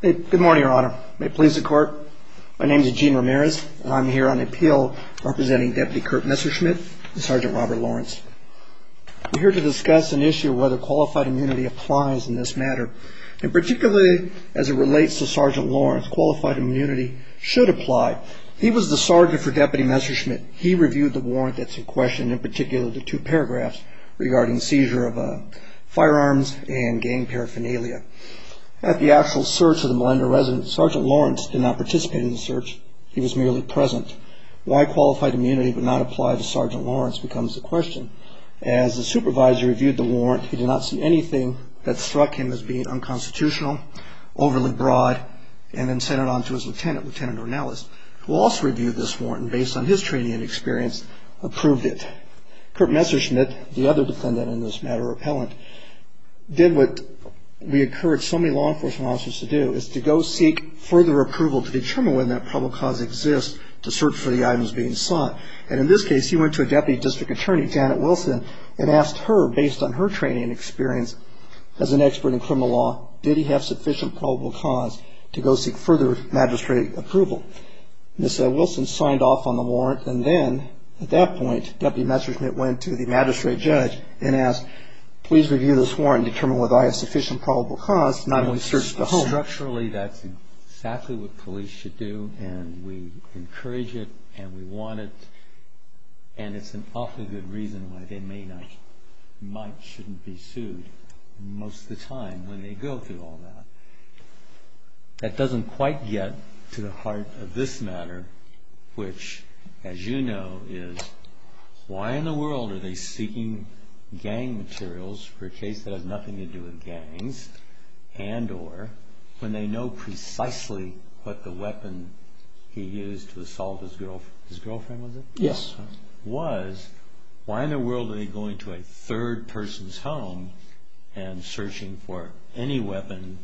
Good morning, Your Honor. May it please the Court. My name is Eugene Ramirez, and I'm here on appeal representing Deputy Kurt Messerschmidt and Sergeant Robert Lawrence. We're here to discuss an issue of whether qualified immunity applies in this matter, and particularly as it relates to Sergeant Lawrence, qualified immunity should apply. He was the sergeant for Deputy Messerschmidt. He reviewed the warrant that's in question, in particular the two paragraphs regarding seizure of firearms and gang paraphernalia. At the actual search of the Melinda residence, Sergeant Lawrence did not participate in the search. He was merely present. Why qualified immunity would not apply to Sergeant Lawrence becomes the question. As the supervisor reviewed the warrant, he did not see anything that struck him as being unconstitutional, overly broad, and then sent it on to his lieutenant, Lieutenant Ronellis, who also reviewed this warrant, and based on his training and experience, approved it. Kurt Messerschmidt, the other defendant in this matter, appellant, did what we encourage so many law enforcement officers to do, is to go seek further approval to determine whether that probable cause exists to search for the items being sought. And in this case, he went to a deputy district attorney, Janet Wilson, and asked her, based on her training and experience as an expert in criminal law, did he have sufficient probable cause to go seek further magistrate approval? Ms. Wilson signed off on the warrant, and then, at that point, Deputy Messerschmidt went to the magistrate judge and asked, please review this warrant and determine whether I have sufficient probable cause not only to search the home. Structurally, that's exactly what police should do, and we encourage it, and we want it, and it's an awfully good reason why they may not, might, shouldn't be sued most of the time when they go through all that. That doesn't quite get to the heart of this matter, which, as you know, is, why in the world are they seeking gang materials for a case that has nothing to do with gangs, and or, when they know precisely what the weapon he used to assault his girlfriend was, why in the world are they going to a third person's home and searching for any weapon,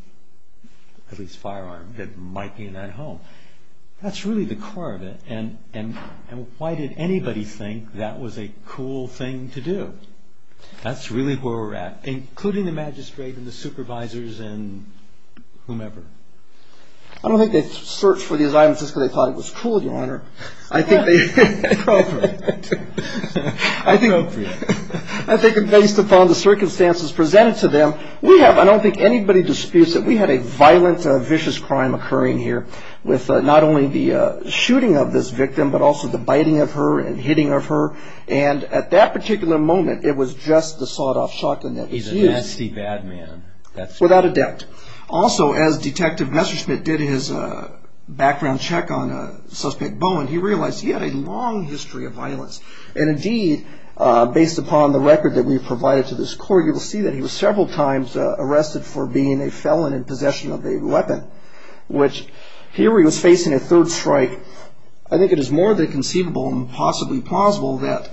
at least firearm, that might be in that home? That's really the core of it, and why did anybody think that was a cool thing to do? That's really where we're at, including the magistrate and the supervisors and whomever. I don't think they searched for these items just because they thought it was cool, Your Honor. I think based upon the circumstances presented to them, we have, I don't think anybody disputes that we had a violent, vicious crime occurring here with not only the shooting of this victim, but also the biting of her and hitting of her, and at that particular moment, it was just the sawed-off shotgun that was used. He's a nasty, bad man. Without a doubt. Also, as Detective Messerschmitt did his background check on Suspect Bowen, he realized he had a long history of violence, and indeed, based upon the record that we've provided to this court, you will see that he was several times arrested for being a felon in possession of a weapon, which here he was facing a third strike. I think it is more than conceivable and possibly plausible that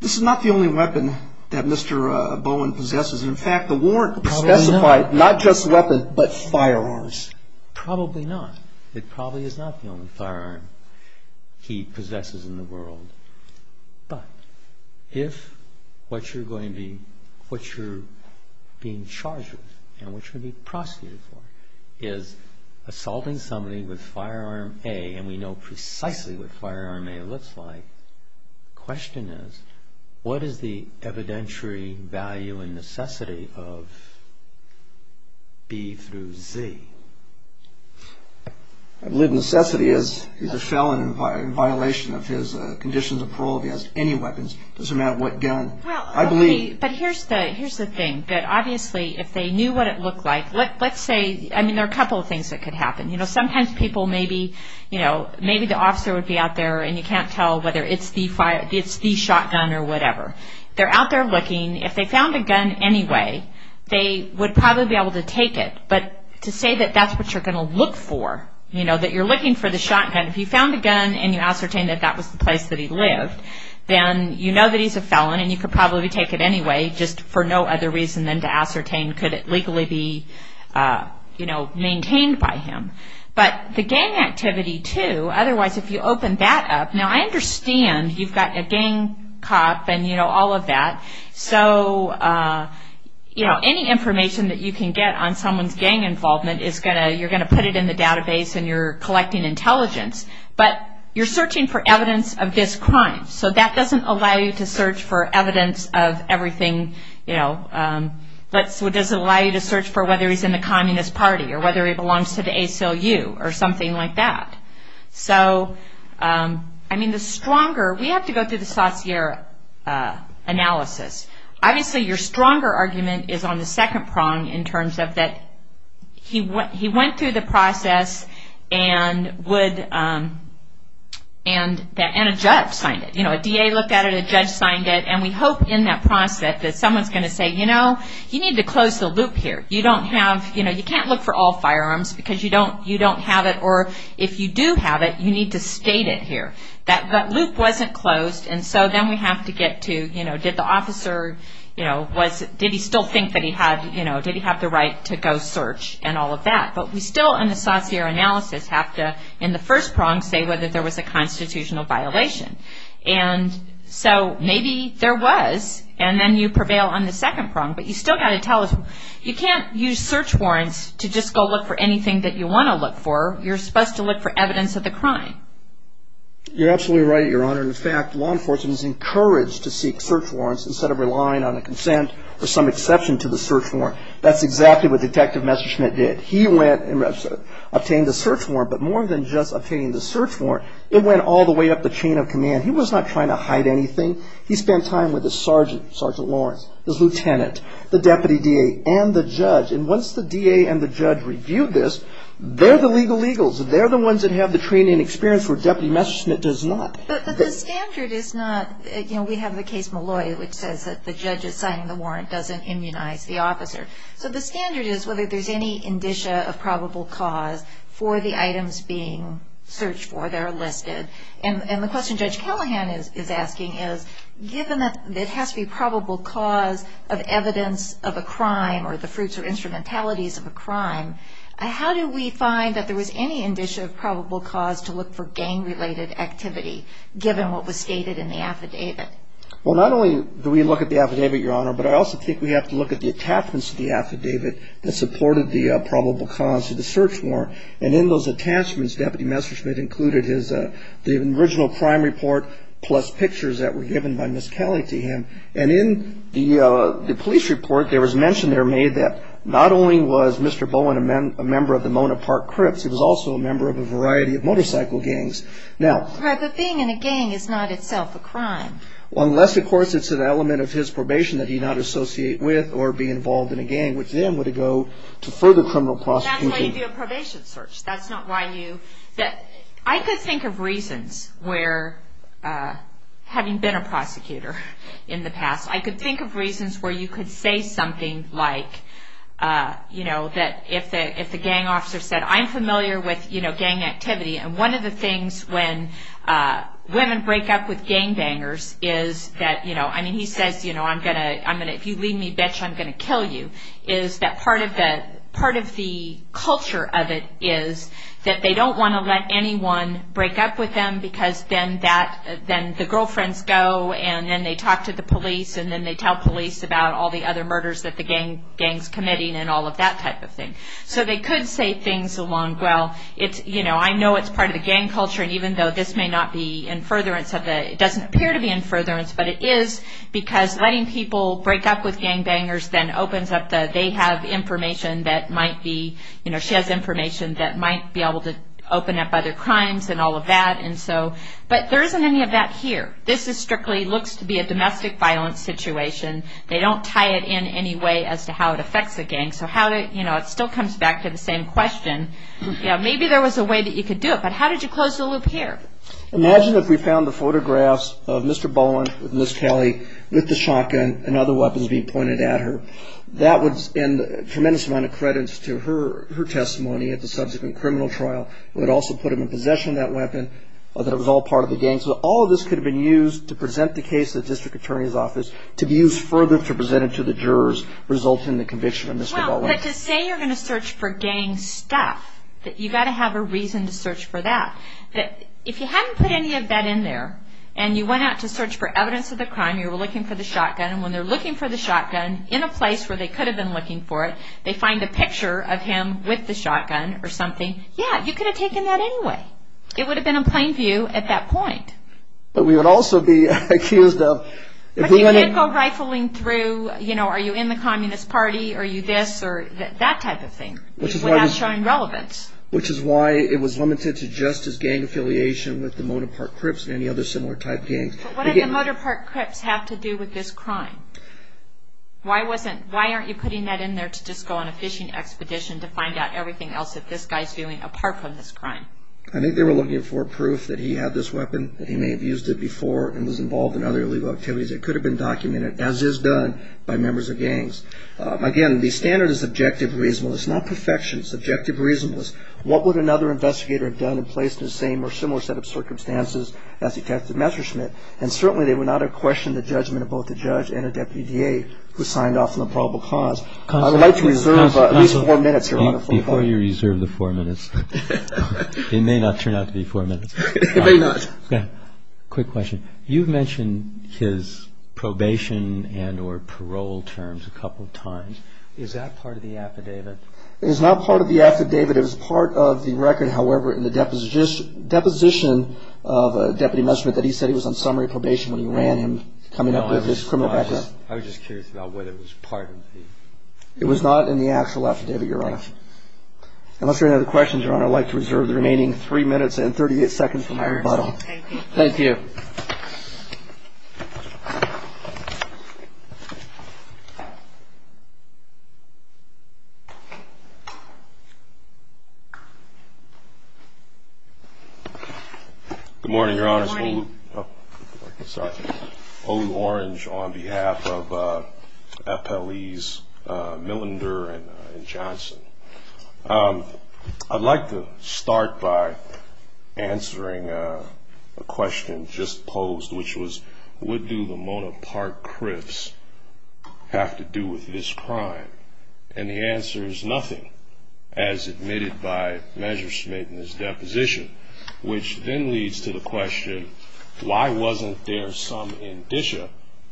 this is not the only weapon that Mr. Bowen possesses. In fact, the warrant specified not just weapon, but firearms. Probably not. It probably is not the only firearm he possesses in the world. But if what you're going to be, what you're being charged with, and what you're going to be prosecuted for, is assaulting somebody with Firearm A, and we know precisely what Firearm A looks like, the question is, what is the evidentiary value and necessity of B through Z? I believe necessity is, he's a felon in violation of his conditions of parole. If he has any weapons, it doesn't matter what gun. I believe. But here's the thing. Obviously, if they knew what it looked like, let's say, I mean, there are a couple of things that could happen. You know, sometimes people may be, you know, maybe the officer would be out there and you can't tell whether it's the shotgun or whatever. They're out there looking. If they found a gun anyway, they would probably be able to take it. But to say that that's what you're going to look for, you know, that you're looking for the shotgun, if you found a gun and you ascertain that that was the place that he lived, then you know that he's a felon and you could probably take it anyway, just for no other reason than to ascertain could it legally be, you know, maintained by him. But the gang activity, too, otherwise if you open that up, now I understand you've got a gang cop and, you know, all of that. So, you know, any information that you can get on someone's gang involvement is going to, you're going to put it in the database and you're collecting intelligence. But you're searching for evidence of this crime. So that doesn't allow you to search for evidence of everything, you know. It doesn't allow you to search for whether he's in the Communist Party or whether he belongs to the ACLU or something like that. So, I mean, the stronger, we have to go through the Saussure analysis. Obviously, your stronger argument is on the second prong in terms of that he went through the process and a judge signed it. You know, a DA looked at it, a judge signed it. And we hope in that process that someone's going to say, you know, you need to close the loop here. You don't have, you know, you can't look for all firearms because you don't have it. Or if you do have it, you need to state it here. That loop wasn't closed. And so then we have to get to, you know, did the officer, you know, did he still think that he had, you know, did he have the right to go search and all of that. But we still in the Saussure analysis have to, in the first prong, say whether there was a constitutional violation. And so maybe there was. And then you prevail on the second prong. But you still got to tell us, you can't use search warrants to just go look for anything that you want to look for. You're supposed to look for evidence of the crime. You're absolutely right, Your Honor. In fact, law enforcement is encouraged to seek search warrants instead of relying on a consent or some exception to the search warrant. That's exactly what Detective Messerschmidt did. He went and obtained a search warrant. But more than just obtaining the search warrant, it went all the way up the chain of command. He was not trying to hide anything. He spent time with his sergeant, Sergeant Lawrence, his lieutenant, the deputy DA, and the judge. And once the DA and the judge reviewed this, they're the legal eagles. They're the ones that have the training and experience where Deputy Messerschmidt does not. But the standard is not, you know, we have the case Malloy, which says that the judge is signing the warrant, doesn't immunize the officer. So the standard is whether there's any indicia of probable cause for the items being searched for that are listed. And the question Judge Callahan is asking is, given that it has to be probable cause of evidence of a crime or the fruits or instrumentalities of a crime, how do we find that there was any indicia of probable cause to look for gang-related activity, given what was stated in the affidavit? Well, not only do we look at the affidavit, Your Honor, but I also think we have to look at the attachments to the affidavit that supported the probable cause of the search warrant. And in those attachments, Deputy Messerschmidt included the original crime report plus pictures that were given by Ms. Kelly to him. And in the police report, there was mention there made that not only was Mr. Bowen a member of the Mona Park Crips, he was also a member of a variety of motorcycle gangs. Right, but being in a gang is not itself a crime. Unless, of course, it's an element of his probation that he not associate with or be involved in a gang, which then would go to further criminal prosecution. That's why you do a probation search. That's not why you... I could think of reasons where, having been a prosecutor in the past, I could think of reasons where you could say something like, you know, that if the gang officer said, I'm familiar with, you know, gang activity, and one of the things when women break up with gangbangers is that, you know, I mean, he says, you know, I'm going to, if you leave me, bitch, I'm going to kill you, is that part of the culture of it is that they don't want to let anyone break up with them because then the girlfriends go and then they talk to the police and then they tell police about all the other murders that the gang's committing and all of that type of thing. So they could say things along, well, it's, you know, I know it's part of the gang culture and even though this may not be in furtherance of the, it doesn't appear to be in furtherance, but it is because letting people break up with gangbangers then opens up the, they have information that might be, you know, she has information that might be able to open up other crimes and all of that. And so, but there isn't any of that here. This is strictly looks to be a domestic violence situation. They don't tie it in any way as to how it affects the gang. So how to, you know, it still comes back to the same question. You know, maybe there was a way that you could do it, but how did you close the loop here? Imagine if we found the photographs of Mr. Bowen with Ms. Talley with the shotgun and other weapons being pointed at her. That would, and a tremendous amount of credits to her testimony at the subsequent criminal trial would also put him in possession of that weapon, that it was all part of the gang. So all of this could have been used to present the case to the district attorney's office to be used further to present it to the jurors resulting in the conviction of Mr. Bowen. But to say you're going to search for gang stuff, that you've got to have a reason to search for that, that if you hadn't put any of that in there and you went out to search for evidence of the crime, you were looking for the shotgun, and when they're looking for the shotgun in a place where they could have been looking for it, they find a picture of him with the shotgun or something, yeah, you could have taken that anyway. It would have been a plain view at that point. But we would also be accused of... You can't go rifling through, you know, are you in the Communist Party? Are you this or that type of thing without showing relevance. Which is why it was limited to just his gang affiliation with the Motor Park Crips and any other similar type gangs. But what did the Motor Park Crips have to do with this crime? Why aren't you putting that in there to just go on a fishing expedition to find out everything else that this guy's doing apart from this crime? I think they were looking for proof that he had this weapon, that he may have used it before and was involved in other illegal activities. It could have been documented, as is done, by members of gangs. Again, the standard is objective reasonableness, not perfection. It's objective reasonableness. What would another investigator have done and placed in the same or similar set of circumstances as Detective Messerschmidt? And certainly they would not have questioned the judgment of both the judge and a deputy DA who signed off on the probable cause. I would like to reserve at least four minutes here. Before you reserve the four minutes, it may not turn out to be four minutes. It may not. Quick question. You've mentioned his probation and or parole terms a couple of times. Is that part of the affidavit? It is not part of the affidavit. It was part of the record, however, in the deposition of Deputy Messerschmidt that he said he was on summary probation when he ran him coming up with this criminal record. I was just curious about whether it was part of the... It was not in the actual affidavit, Your Honor. Unless there are any other questions, Your Honor, I'd like to reserve the remaining three minutes and 38 seconds for my rebuttal. Thank you. Thank you. Good morning, Your Honor. Good morning. Sorry. Olu Orange on behalf of FLEs Millender and Johnson. I'd like to start by answering a question just posed, which was, what do Lamona Park Criffs have to do with this crime? And the answer is nothing, as admitted by Messerschmidt in his deposition, which then leads to the question, why wasn't there some indicia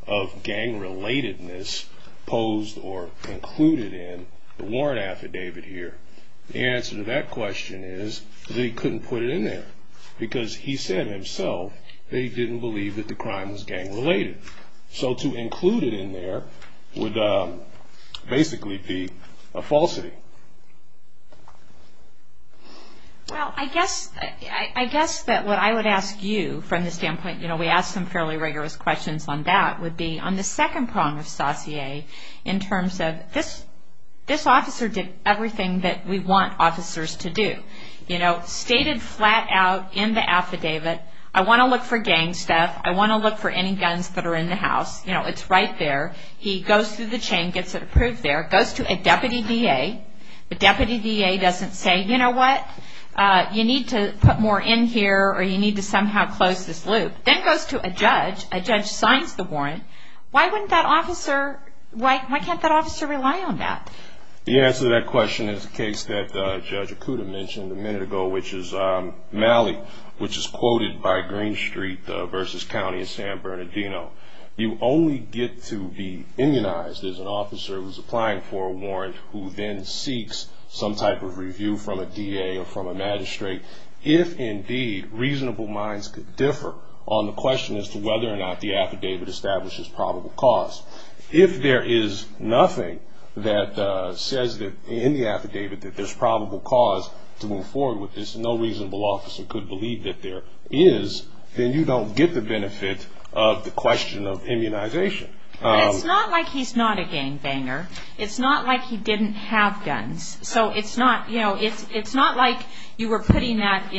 of gang-relatedness posed or included in the warrant affidavit here? The answer to that question is that he couldn't put it in there because he said himself that he didn't believe that the crime was gang-related. So to include it in there would basically be a falsity. Well, I guess that what I would ask you from the standpoint, you know, we asked some fairly rigorous questions on that, would be on the second prong of saussure in terms of this officer did everything that we want officers to do. You know, stated flat out in the affidavit, I want to look for gang stuff. I want to look for any guns that are in the house. You know, it's right there. He goes through the chain, gets it approved there, goes to a deputy DA. The deputy DA doesn't say, you know what, you need to put more in here or you need to somehow close this loop. Then goes to a judge. A judge signs the warrant. Why can't that officer rely on that? The answer to that question is a case that Judge Acuda mentioned a minute ago, which is Malley, which is quoted by Green Street versus County of San Bernardino. You only get to be immunized as an officer who's applying for a warrant who then seeks some type of review from a DA or from a magistrate if, indeed, reasonable minds could differ on the question as to whether or not the affidavit establishes probable cause. If there is nothing that says that in the affidavit that there's probable cause to move forward with this and no reasonable officer could believe that there is, then you don't get the benefit of the question of immunization. But it's not like he's not a gangbanger. It's not like he didn't have guns. It's not like you were putting that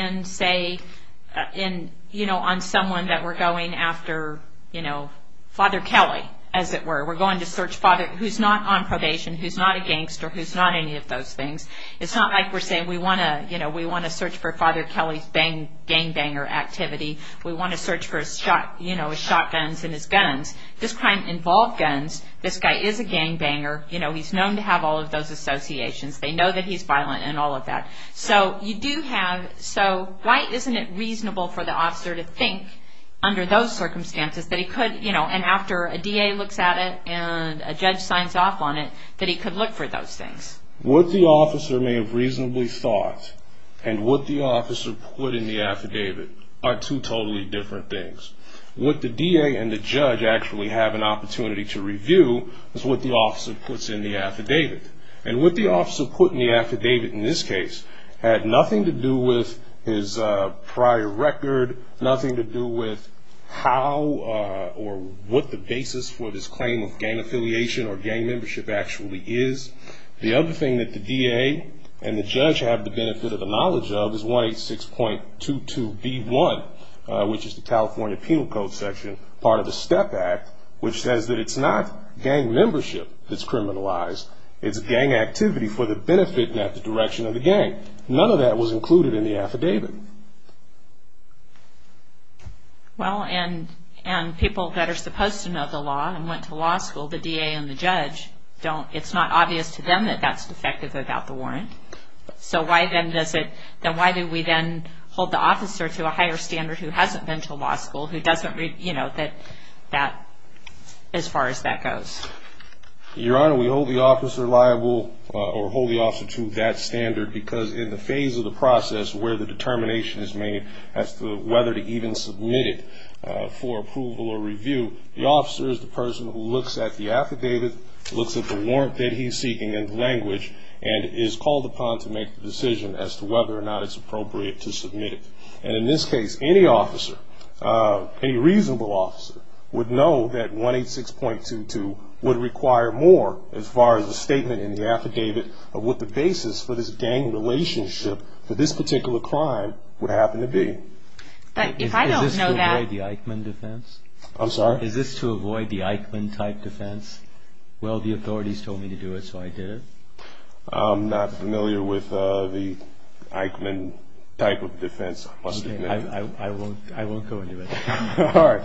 on someone that we're going after, Father Kelly, as it were. We're going to search Father who's not on probation, who's not a gangster, who's not any of those things. It's not like we're saying we want to search for Father Kelly's gangbanger activity. We want to search for his shotguns and his guns. This crime involved guns. This guy is a gangbanger. He's known to have all of those associations. They know that he's violent and all of that. So why isn't it reasonable for the officer to think under those circumstances that he could, and after a DA looks at it and a judge signs off on it, that he could look for those things? What the officer may have reasonably thought and what the officer put in the affidavit are two totally different things. What the DA and the judge actually have an opportunity to review is what the officer puts in the affidavit. And what the officer put in the affidavit in this case had nothing to do with his prior record, nothing to do with how or what the basis for this claim of gang affiliation or gang membership actually is. The other thing that the DA and the judge have the benefit of the knowledge of is 186.22B1, which is the California Penal Code section, part of the STEP Act, which says that it's not gang membership that's criminalized, it's gang activity for the benefit and not the direction of the gang. None of that was included in the affidavit. Well, and people that are supposed to know the law and went to law school, the DA and the judge, it's not obvious to them that that's defective without the warrant. So why do we then hold the officer to a higher standard who hasn't been to law school, who doesn't read that as far as that goes? Your Honor, we hold the officer liable or hold the officer to that standard because in the phase of the process where the determination is made as to whether to even submit it for approval or review, the officer is the person who looks at the affidavit, looks at the warrant that he's seeking and the language, and is called upon to make the decision as to whether or not it's appropriate to submit it. And in this case, any officer, any reasonable officer, would know that 186.22 would require more as far as the statement in the affidavit of what the basis for this gang relationship for this particular crime would happen to be. But if I don't know that... Is this to avoid the Eichmann defense? I'm sorry? Is this to avoid the Eichmann-type defense? Well, the authorities told me to do it, so I did it. I'm not familiar with the Eichmann-type of defense. I won't go into it. All right.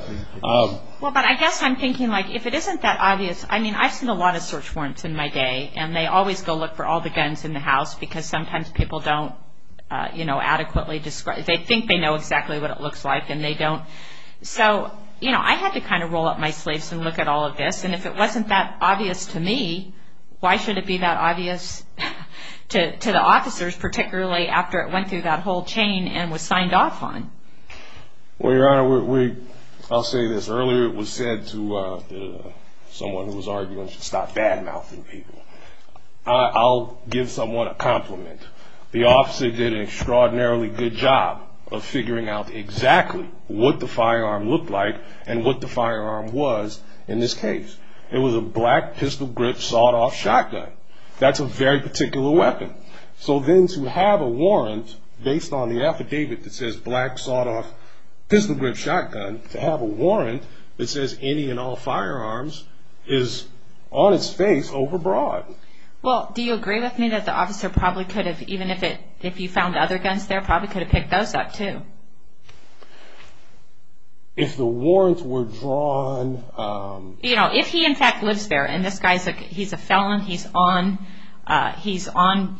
Well, but I guess I'm thinking, like, if it isn't that obvious... I mean, I've seen a lot of search warrants in my day, and they always go look for all the guns in the house because sometimes people don't, you know, adequately describe... They think they know exactly what it looks like, and they don't. So, you know, I had to kind of roll up my sleeves and look at all of this, and if it wasn't that obvious to me, why should it be that obvious to the officers, particularly after it went through that whole chain and was signed off on? Well, Your Honor, I'll say this. Earlier it was said to someone who was arguing to stop bad-mouthing people. I'll give someone a compliment. The officer did an extraordinarily good job of figuring out exactly what the firearm looked like and what the firearm was in this case. It was a black, pistol-grip, sawed-off shotgun. That's a very particular weapon. So then to have a warrant based on the affidavit that says black, sawed-off, pistol-grip shotgun, to have a warrant that says any and all firearms is on its face overbroad. Well, do you agree with me that the officer probably could have, even if you found other guns there, probably could have picked those up too? If the warrants were drawn... You know, if he in fact lives there and this guy's a felon, he's on,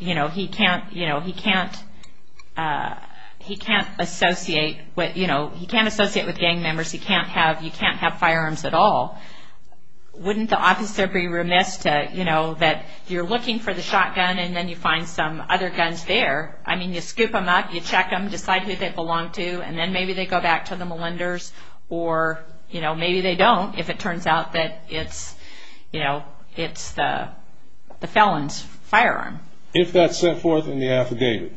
you know, he can't associate with gang members, you can't have firearms at all, wouldn't the officer be remiss that you're looking for the shotgun and then you find some other guns there? I mean, you scoop them up, you check them, decide who they belong to, and then maybe they go back to the Melinders, or maybe they don't if it turns out that it's the felon's firearm. If that's set forth in the affidavit.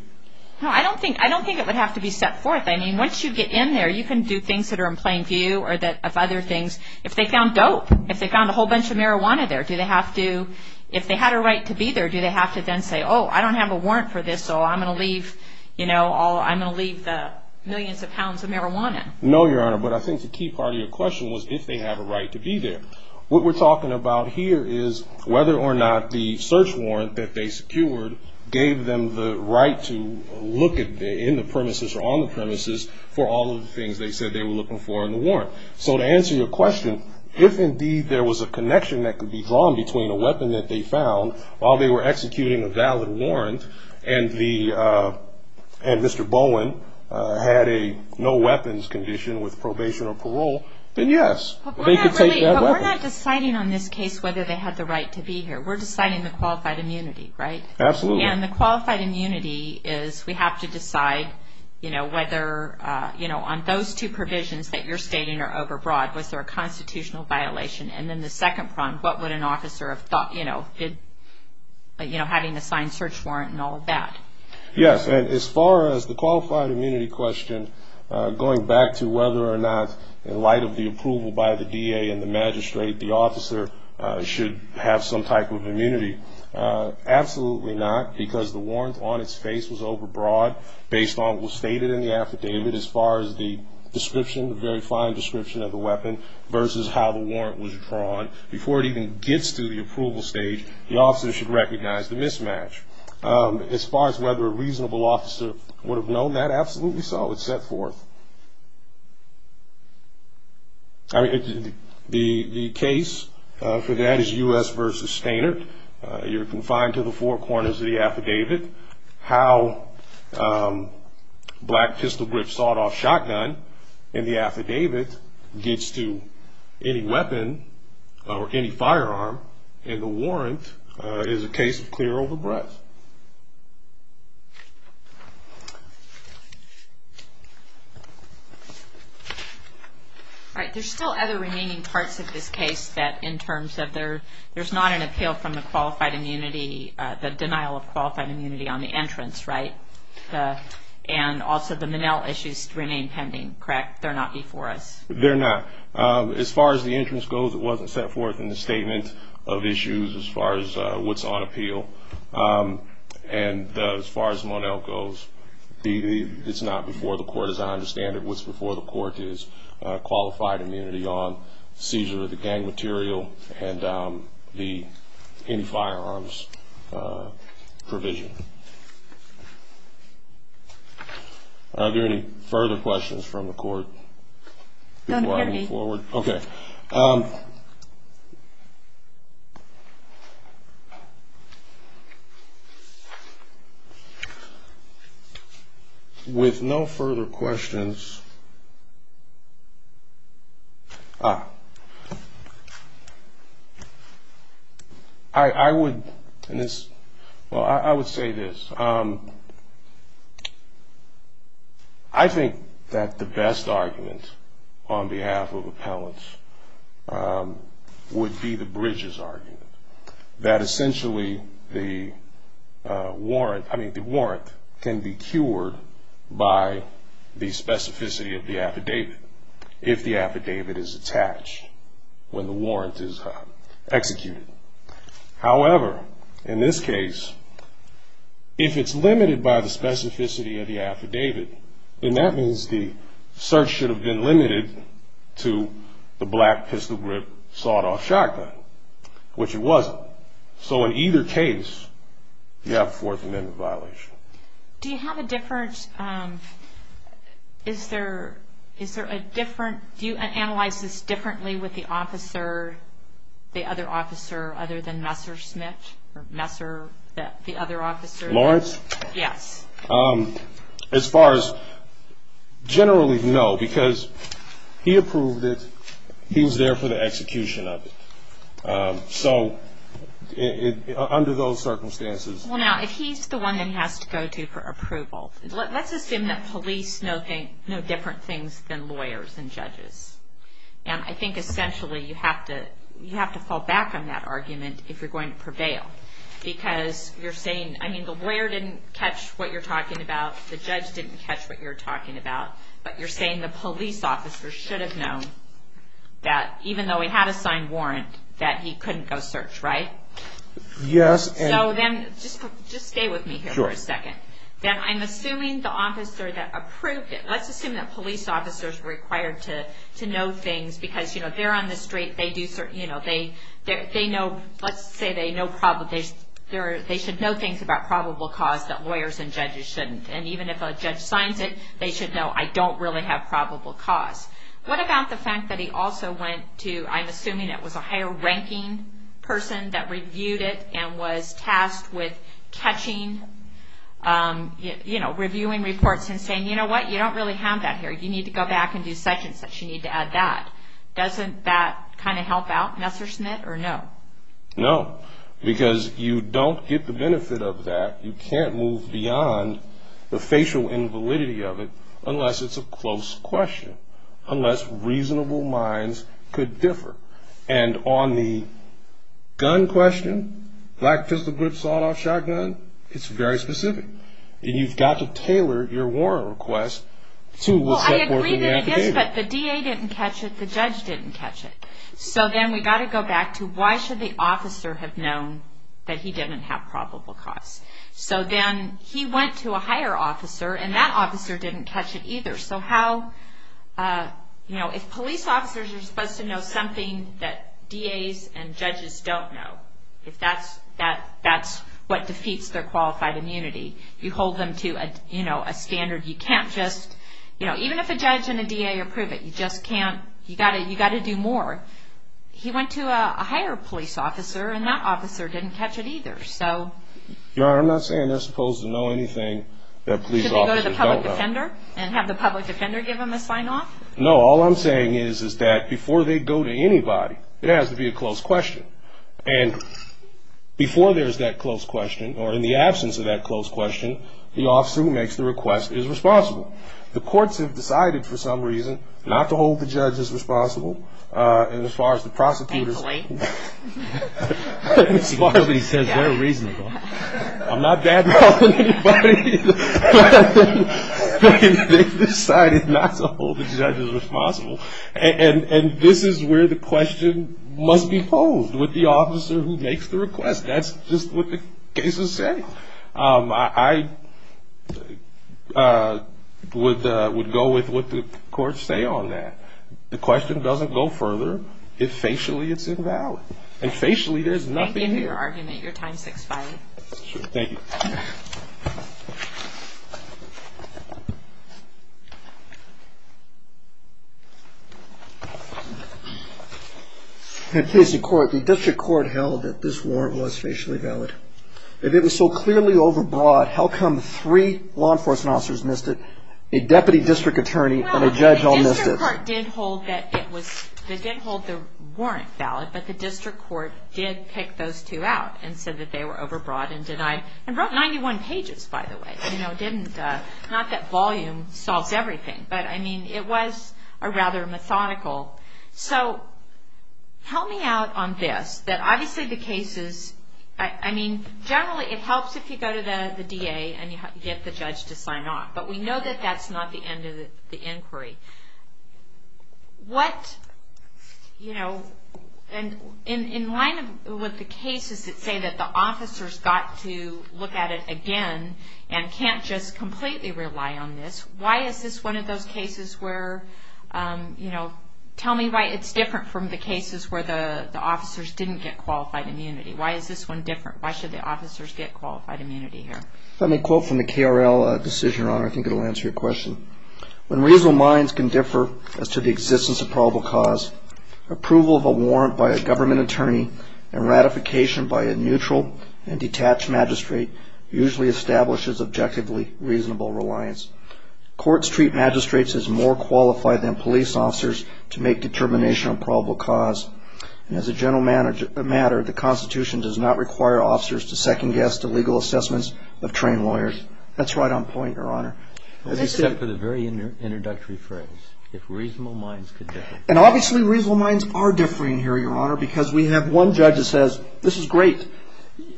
No, I don't think it would have to be set forth. I mean, once you get in there, you can do things that are in plain view of other things. If they found dope, if they found a whole bunch of marijuana there, do they have to, if they had a right to be there, do they have to then say, oh, I don't have a warrant for this, so I'm going to leave, you know, I'm going to leave the millions of pounds of marijuana? No, Your Honor, but I think the key part of your question was if they have a right to be there. What we're talking about here is whether or not the search warrant that they secured gave them the right to look in the premises or on the premises for all of the things they said they were looking for in the warrant. So to answer your question, if indeed there was a connection that could be drawn between a weapon that they found while they were executing a valid warrant and Mr. Bowen had a no-weapons condition with probation or parole, then yes, they could take that weapon. But we're not deciding on this case whether they had the right to be here. We're deciding the qualified immunity, right? Absolutely. And the qualified immunity is we have to decide, you know, whether, you know, on those two provisions that you're stating are overbroad, was there a constitutional violation? And then the second problem, what would an officer have thought, you know, having a signed search warrant and all of that? Yes, and as far as the qualified immunity question, going back to whether or not, in light of the approval by the DA and the magistrate, the officer should have some type of immunity, absolutely not because the warrant on its face was overbroad based on what was stated in the affidavit as far as the description, the very fine description of the weapon versus how the warrant was drawn. Before it even gets to the approval stage, the officer should recognize the mismatch. As far as whether a reasonable officer would have known that, absolutely so. It's set forth. The case for that is U.S. v. Steynert. You're confined to the four corners of the affidavit. How black pistol grip sawed-off shotgun in the affidavit gets to any weapon or any firearm in the warrant is a case of clear overbreadth. All right, there's still other remaining parts of this case that in terms of there's not an appeal from the qualified immunity, the denial of qualified immunity on the entrance, right? And also the Monell issues remain pending, correct? They're not before us. They're not. As far as the entrance goes, it wasn't set forth in the statement of issues as far as what's on appeal. And as far as Monell goes, it's not before the court as I understand it. So it's before the court is qualified immunity on seizure of the gang material and the firearms provision. Are there any further questions from the court before I move forward? Don't hear me. Okay. All right. With no further questions, I would say this. I think that the best argument on behalf of appellants would be the Bridges argument, that essentially the warrant can be cured by the specificity of the affidavit if the affidavit is attached, when the warrant is executed. However, in this case, if it's limited by the specificity of the affidavit, then that means the search should have been limited to the black pistol grip sawed-off shotgun, which it wasn't. So in either case, you have a Fourth Amendment violation. Do you have a different, is there a different, do you analyze this differently with the officer, the other officer other than Messer Smith or Messer, the other officer? Lawrence? Yes. As far as generally, no, because he approved it. He was there for the execution of it. So under those circumstances. Well, now, if he's the one that has to go to for approval, let's assume that police know different things than lawyers and judges. And I think essentially you have to fall back on that argument if you're going to prevail. Because you're saying, I mean, the lawyer didn't catch what you're talking about, the judge didn't catch what you're talking about, but you're saying the police officer should have known that even though he had a signed warrant, that he couldn't go search, right? Yes. So then, just stay with me here for a second. I'm assuming the officer that approved it, let's assume that police officers were required to know things because, you know, they're on the street, they do certain, you know, they know, let's say they know, they should know things about probable cause that lawyers and judges shouldn't. And even if a judge signs it, they should know, I don't really have probable cause. What about the fact that he also went to, I'm assuming it was a higher ranking person that reviewed it and was tasked with catching, you know, reviewing reports and saying, you know what? You don't really have that here. You need to go back and do such and such. You need to add that. Doesn't that kind of help out Messerschmitt or no? No, because you don't get the benefit of that. You can't move beyond the facial invalidity of it unless it's a close question, unless reasonable minds could differ. And on the gun question, black pistol grip sawed-off shotgun, it's very specific. And you've got to tailor your warrant request to what's set forth in the affidavit. Well, I agree that it is, but the DA didn't catch it. The judge didn't catch it. So then we've got to go back to why should the officer have known that he didn't have probable cause? So then he went to a higher officer, and that officer didn't catch it either. So how, you know, if police officers are supposed to know something that DAs and judges don't know, if that's what defeats their qualified immunity, you hold them to, you know, a standard. You can't just, you know, even if a judge and a DA approve it, you just can't. You've got to do more. He went to a higher police officer, and that officer didn't catch it either. No, I'm not saying they're supposed to know anything that police officers don't know. And have the public defender give him a sign-off? No, all I'm saying is that before they go to anybody, it has to be a close question. And before there's that close question, or in the absence of that close question, the officer who makes the request is responsible. The courts have decided for some reason not to hold the judges responsible, and as far as the prosecutors. Thankfully. As far as he says they're reasonable. I'm not badmouthing anybody, but they've decided not to hold the judges responsible. And this is where the question must be posed with the officer who makes the request. That's just what the cases say. I would go with what the courts say on that. The question doesn't go further if facially it's invalid. And facially there's nothing here. Thank you for your argument. Your time's expired. Thank you. In case the court, the district court held that this warrant was facially valid. If it was so clearly overbroad, how come three law enforcement officers missed it, a deputy district attorney, and a judge all missed it? The district court did hold that it was, they did hold the warrant valid, but the district court did pick those two out and said that they were overbroad and denied. And wrote 91 pages, by the way. Not that volume solves everything, but, I mean, it was rather methodical. So help me out on this, that obviously the cases, I mean, generally it helps if you go to the DA and you get the judge to sign off. But we know that that's not the end of the inquiry. What, you know, in line with the cases that say that the officers got to look at it again and can't just completely rely on this, why is this one of those cases where, you know, tell me why it's different from the cases where the officers didn't get qualified immunity. Why is this one different? Why should the officers get qualified immunity here? If I may quote from the KRL decision, Your Honor, I think it will answer your question. When reasonable minds can differ as to the existence of probable cause, approval of a warrant by a government attorney and ratification by a neutral and detached magistrate usually establishes objectively reasonable reliance. Courts treat magistrates as more qualified than police officers to make determination on probable cause. And as a general matter, the Constitution does not require officers to second guess to legal assessments of trained lawyers. That's right on point, Your Honor. Except for the very introductory phrase, if reasonable minds could differ. And obviously reasonable minds are differing here, Your Honor, because we have one judge that says, this is great,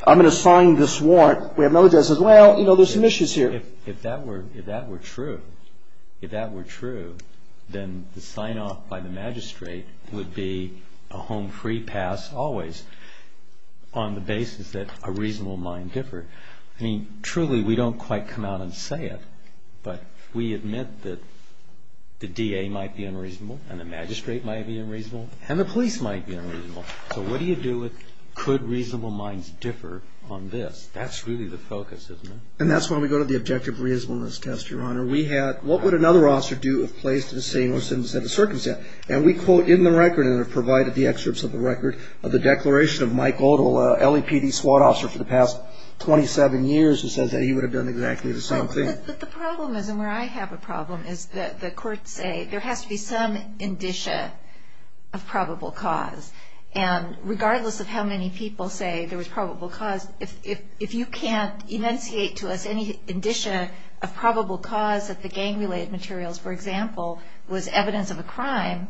I'm going to sign this warrant. We have another judge that says, well, you know, there's some issues here. If that were true, if that were true, then the sign-off by the magistrate would be a home-free pass always on the basis that a reasonable mind differed. I mean, truly, we don't quite come out and say it, but we admit that the DA might be unreasonable and the magistrate might be unreasonable and the police might be unreasonable. So what do you do with could reasonable minds differ on this? That's really the focus, isn't it? And that's when we go to the objective reasonableness test, Your Honor. We had, what would another officer do if placed in the same or similar circumstance? And we quote in the record, and have provided the excerpts of the record, the declaration of Mike Odle, LAPD SWAT officer for the past 27 years, who says that he would have done exactly the same thing. But the problem is, and where I have a problem, is that the courts say there has to be some indicia of probable cause. And regardless of how many people say there was probable cause, if you can't enunciate to us any indicia of probable cause that the gang-related materials, for example, was evidence of a crime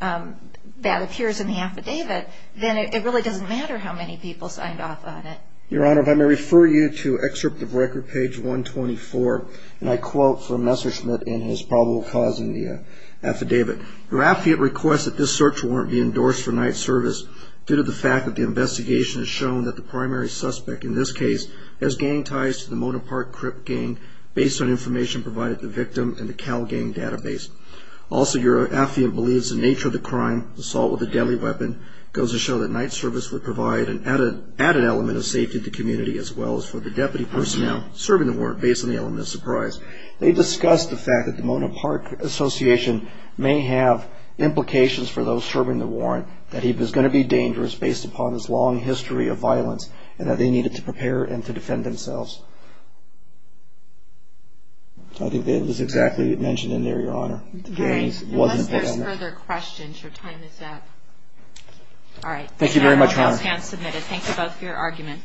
that appears in the affidavit, then it really doesn't matter how many people signed off on it. Your Honor, if I may refer you to excerpt of record, page 124, and I quote from Messerschmidt in his probable cause in the affidavit. Your affidavit requests that this search warrant be endorsed for night service due to the fact that the investigation has shown that the primary suspect in this case has gang ties to the Mona Park Crip gang based on information provided to the victim in the Cal Gang database. Also, your affidavit believes the nature of the crime, assault with a deadly weapon, goes to show that night service would provide an added element of safety to the community as well as for the deputy personnel serving the warrant based on the element of surprise. They discussed the fact that the Mona Park Association may have implications for those serving the warrant, that he was going to be dangerous based upon his long history of violence and that they needed to prepare and to defend themselves. I think it was exactly mentioned in there, Your Honor. Unless there's further questions, your time is up. Thank you very much, Your Honor. Thank you both for your argument.